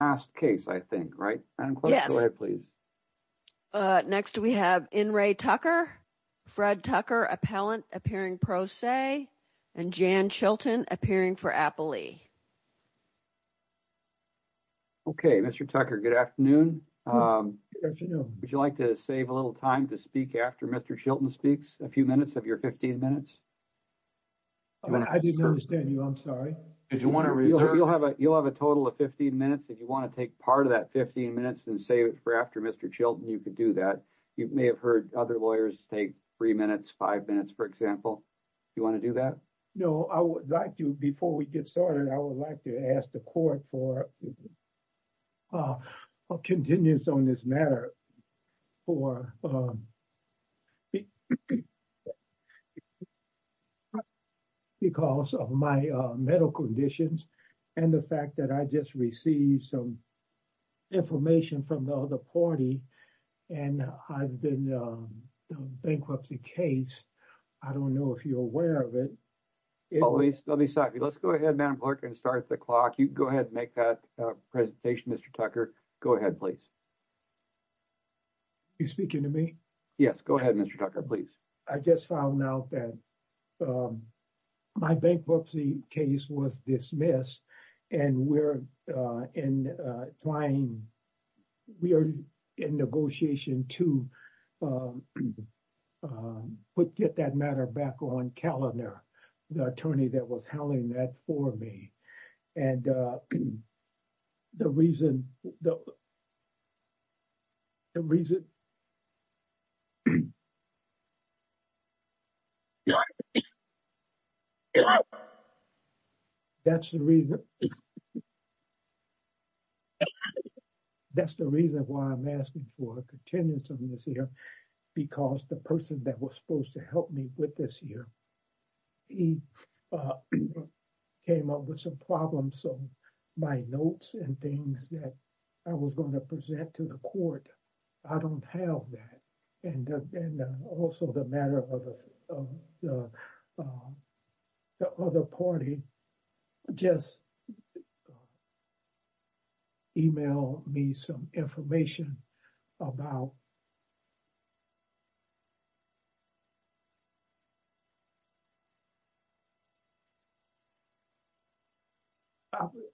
Asked case, I think, right? And yes, please. Next, we have in Ray Tucker. Fred Tucker appellant appearing pro se. And Jan Chilton appearing for Apple. Okay, Mr. Tucker, good afternoon. Good afternoon. Would you like to save a little time to speak after Mr. Chilton speaks a few minutes of your 15 minutes. I didn't understand you. I'm sorry. Did you want to reserve? You'll have a, you'll have a total of 15 minutes. If you want to take part of that 15 minutes and save it for after Mr. Chilton, you could do that. You may have heard other lawyers take 3 minutes, 5 minutes, for example. You want to do that? No, I would like to before we get started, I would like to ask the court for. Continues on this matter. For because of my medical conditions, and the fact that I just received some. Information from the other party, and I've been a bankruptcy case. I don't know if you're aware of it. Always let me stop you. Let's go ahead and start the clock. You go ahead and make that presentation. Mr. Tucker. Go ahead. Please. You speaking to me? Yes, go ahead. Mr. Tucker. Please. I just found out that. My bankruptcy case was dismissed and we're in trying. We are in negotiation to put get that matter back on calendar. The attorney that was handling that for me and. The reason the reason. That's the reason. That's the reason why I'm asking for a contingency this year because the person that was supposed to help me with this year. He came up with some problems, so my notes and things that I was going to present to the court, I don't have that and and also the matter of the. The other party just. Email me some information about.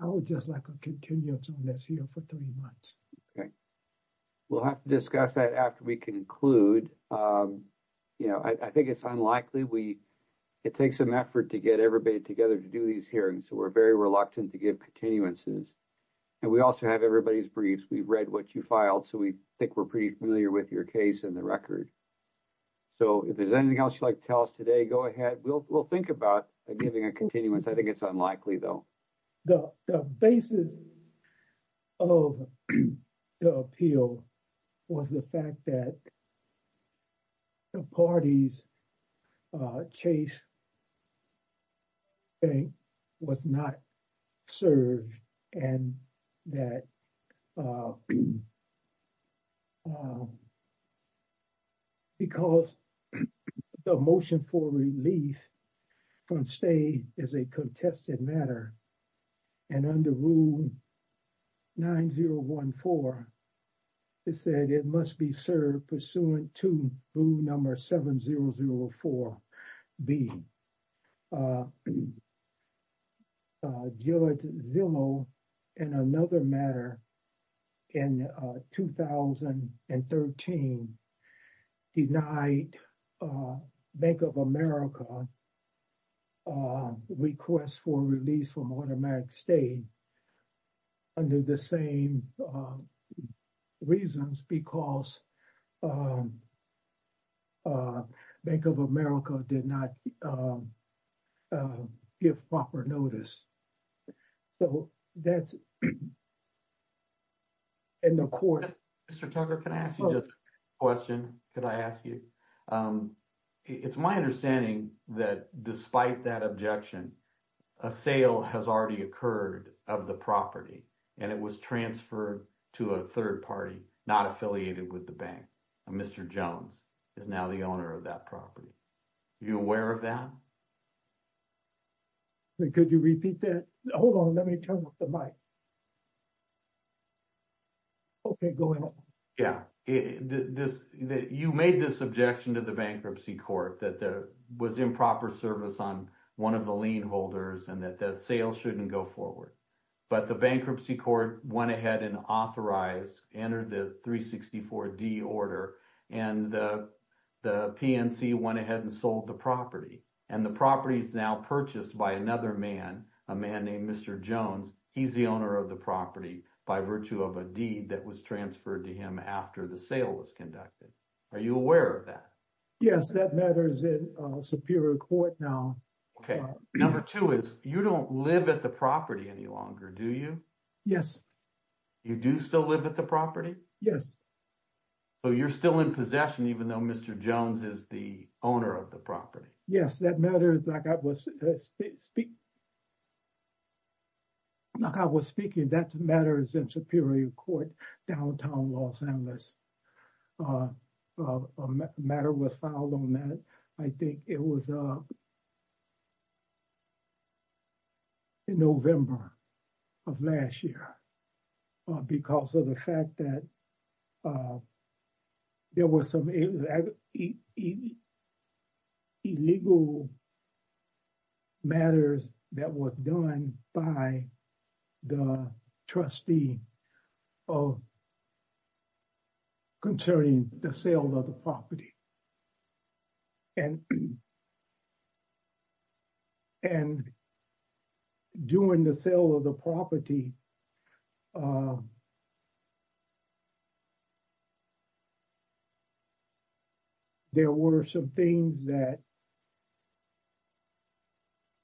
I would just like to continue on this year for 3 months. Okay. We'll have to discuss that after we conclude. And, you know, I think it's unlikely we, it takes some effort to get everybody together to do these hearings. So we're very reluctant to give continuances. And we also have everybody's briefs. We've read what you filed. So we think we're pretty familiar with your case and the record. So, if there's anything else you'd like to tell us today, go ahead. We'll, we'll think about giving a continuance. I think it's unlikely, though. The basis of the appeal. Was the fact that the party's Chase bank was not served and that because the motion for relief from stay is a contested matter. And under rule 9014, it said it must be served pursuant to rule number 7004B. George Zillow, in another matter, in 2013, denied Bank of America requests for release from automatic stay under the same reasons because Bank of America did not give proper notice. So, that's in the court. Mr. Tugger, can I ask you just a question? Could I ask you? It's my understanding that despite that objection, a sale has already occurred of the property and it was transferred to a third party, not affiliated with the bank. Mr. Jones is now the owner of that property. You aware of that? Could you repeat that? Hold on. Let me turn off the mic. Okay, go ahead. Yeah, you made this objection to the bankruptcy court that there was improper service on one of the lien holders and that the sale shouldn't go forward. But the bankruptcy court went ahead and authorized, entered the 364D order and the PNC went ahead and sold the property and the property is now purchased by another man, a man named Mr. Jones. He's the owner of the property by virtue of a deed that was transferred to him after the sale was conducted. Are you aware of that? Yes, that matters in Superior Court now. Okay. Number two is you don't live at the property any longer, do you? Yes. You do still live at the property? Yes. So, you're still in possession even though Mr. Jones is the owner of the property? Yes, that matters. Like I was speaking, that matters in Superior Court, downtown Los Angeles. A matter was filed on that, I think it was in November of last year. Because of the fact that there was some illegal matters that was done by the trustee of concerning the sale of the property. And, and doing the sale of the property, there were some things that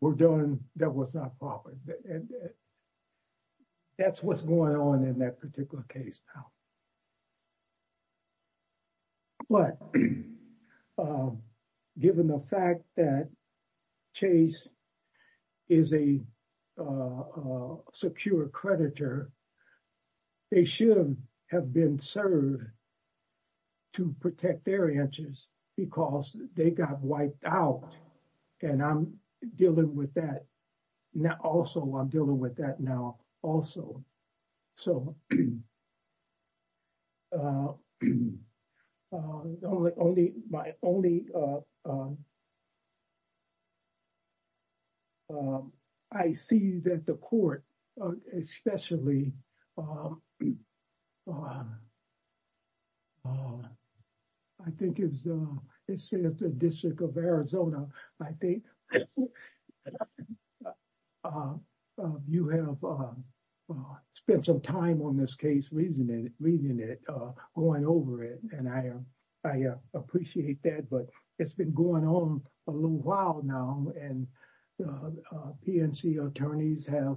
were done that was not proper. That's what's going on in that particular case now. But, given the fact that Chase is a secure creditor, they should have been served to protect their interests because they got wiped out. And I'm dealing with that now. Also, I'm dealing with that now. Also, so only my only I see that the court, especially I think it says the District of Arizona, I think you have spent some time on this case, reading it, going over it, and I appreciate that, but it's been going on a little while now and PNC attorneys have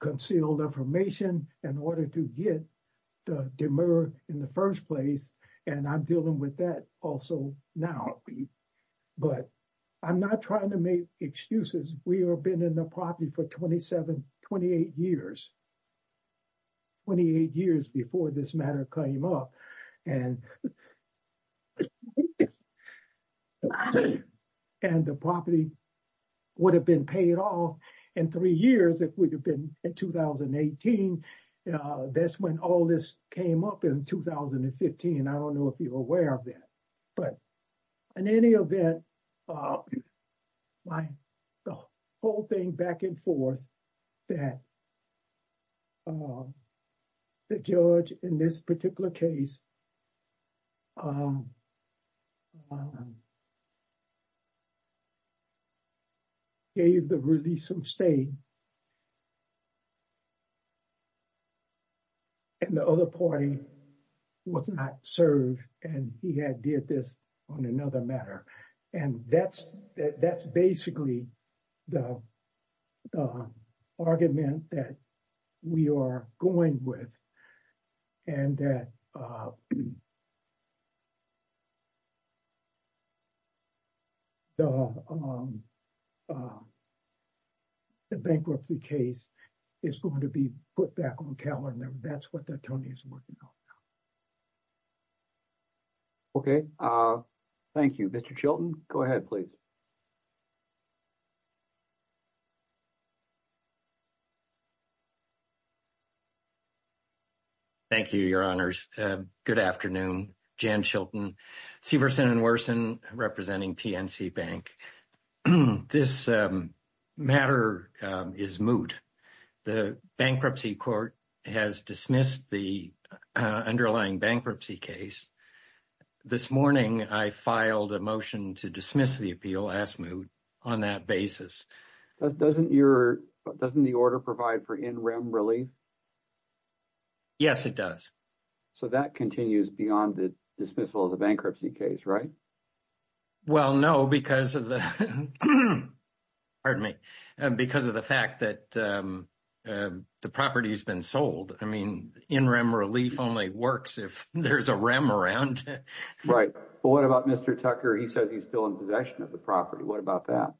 concealed information in order to get the demur in the first place, and I'm dealing with that also now. But I'm not trying to make excuses. We have been in the property for 27, 28 years. 28 years before this matter came up and and the property would have been paid off in three years if we'd have been in 2018. That's when all this came up in 2015. I don't know if you're aware of that, but in any event, my whole thing back and forth that the judge in this particular case gave the release of stay and the other party was not served, and he had did this on another matter. And that's basically the argument that we are going with and that the bankruptcy case is going to be put back on calendar. That's what Tony is working on now. Okay. Thank you. Mr. Chilton, go ahead, please. Thank you, Your Honors. Good afternoon. Jan Chilton, Severson & Worsen representing PNC Bank. This matter is moot. The bankruptcy court has dismissed the underlying bankruptcy case. This morning, I filed a motion to dismiss the appeal as moot on that basis. Doesn't your, doesn't the order provide for in rem relief? Yes, it does. So that continues beyond the dismissal of the bankruptcy case, right? Well, no, because of the, pardon me, because of the fact that the property has been sold. I mean, in rem relief only works if there's a rem around. Right. But what about Mr. Tucker? He says he's still in possession of the property. What about that?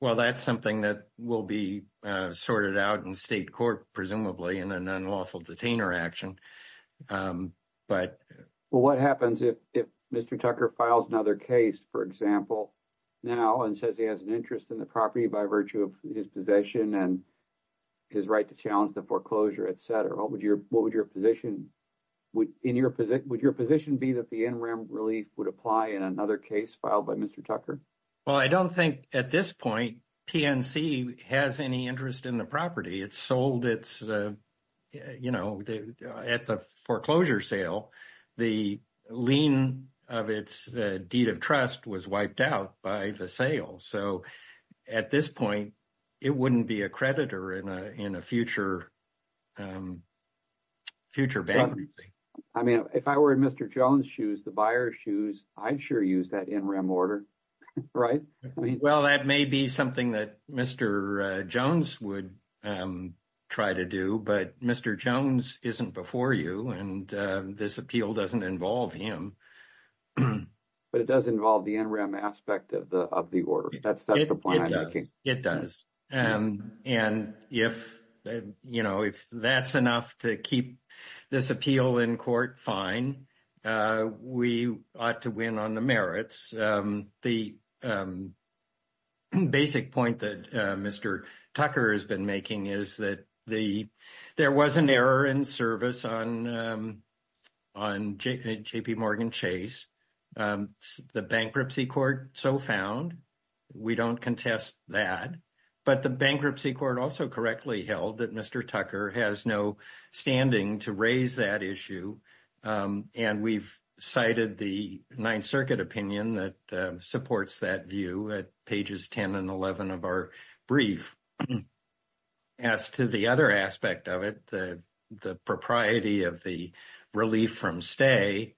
Well, that's something that will be sorted out in state court, presumably in an unlawful detainer action. But what happens if Mr. Tucker files another case, for example, now and says he has an interest in the property by virtue of his possession and his right to challenge the foreclosure, et cetera? What would your position be that the in rem relief would apply in another case filed by Mr. Tucker? Well, I don't think at this point, PNC has any interest in the property. It's sold its, you know, at the foreclosure sale. The lien of its deed of trust was wiped out by the sale. So at this point, it wouldn't be a creditor in a future bankruptcy. I mean, if I were in Mr. Jones' shoes, the buyer's shoes, I'd sure use that in rem order, right? Well, that may be something that Mr. Jones would try to do. But Mr. Jones isn't before you. And this appeal doesn't involve him. But it does involve the in rem aspect of the order. That's the point I'm making. It does. And if, you know, if that's enough to keep this appeal in court, fine. We ought to win on the merits. The basic point that Mr. Tucker has been making is that there was an error in service on JPMorgan Chase. The bankruptcy court so found. We don't contest that. But the bankruptcy court also correctly held that Mr. Tucker has no standing to raise that issue. And we've cited the Ninth Circuit opinion that supports that view at pages 10 and 11 of our brief. As to the other aspect of it, the propriety of the relief from stay,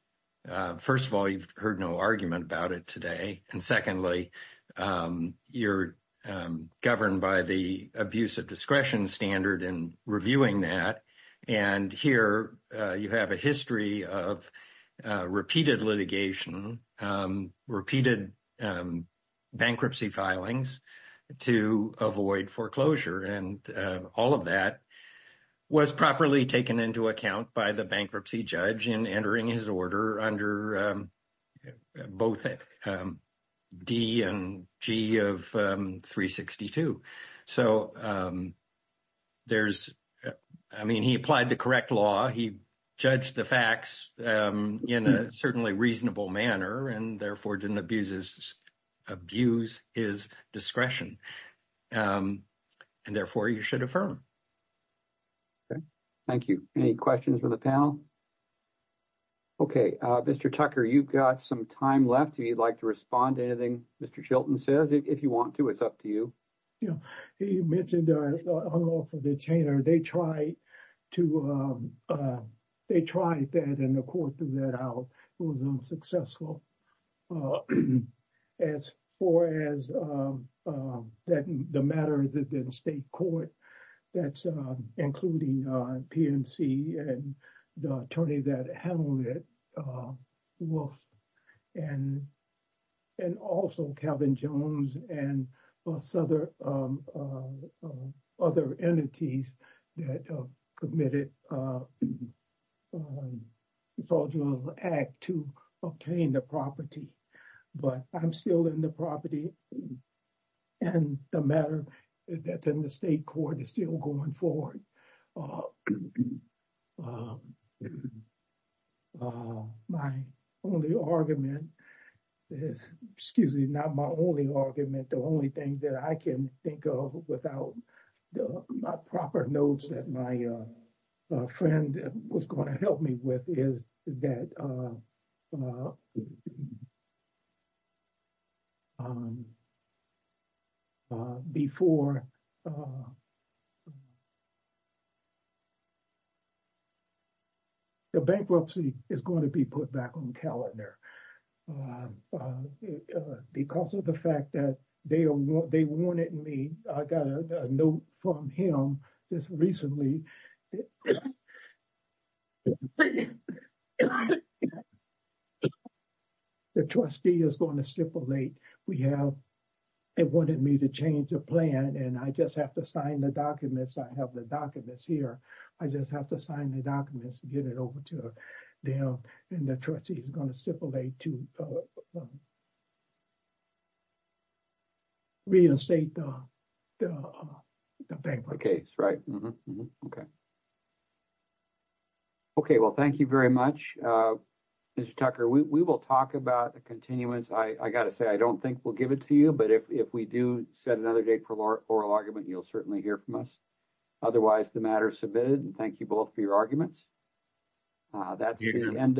first of all, you've heard no argument about it today. And secondly, you're governed by the abuse of discretion standard and reviewing that. And here you have a history of repeated litigation, repeated bankruptcy filings to avoid foreclosure. And all of that was properly taken into account by the bankruptcy judge in entering his order under both D and G of 362. So there's, I mean, he applied the correct law. He judged the facts in a certainly reasonable manner and therefore didn't abuse his discretion. And therefore, you should affirm. Okay. Thank you. Any questions from the panel? Okay. Mr. Tucker, you've got some time left. If you'd like to respond to anything Mr. Chilton says, if you want to, it's up to you. He mentioned unlawful detainer. They tried to, they tried that and the court threw that out. It was unsuccessful. As far as the matters of the state court, that's including PNC and the attorney that handled it, Wolf, and also Calvin Jones and other entities that committed fraudulent act to obtain the property. But I'm still in the property. And the matter that's in the state court is still going forward. My only argument is, excuse me, not my only argument, the only thing that I can think of without proper notes that my friend was going to help me with is that before the bankruptcy is going to be put back on calendar. Because of the fact that they wanted me, I got a note from him just recently. The trustee is going to stipulate we have, they wanted me to change the plan and I just have to sign the documents. I have the documents here. I just have to sign the documents to get it over to them. And the trustee is going to stipulate to reinstate the bankruptcy. Okay, that's right. Okay. Okay, well, thank you very much. Mr. Tucker, we will talk about the continuance. I got to say, I don't think we'll give it to you. But if we do set another date for oral argument, you'll certainly hear from us. Otherwise, the matter is submitted and thank you both for your arguments. That's the end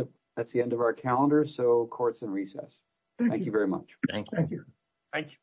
of our calendar. So court's in recess. Thank you very much. Thank you. Thank you.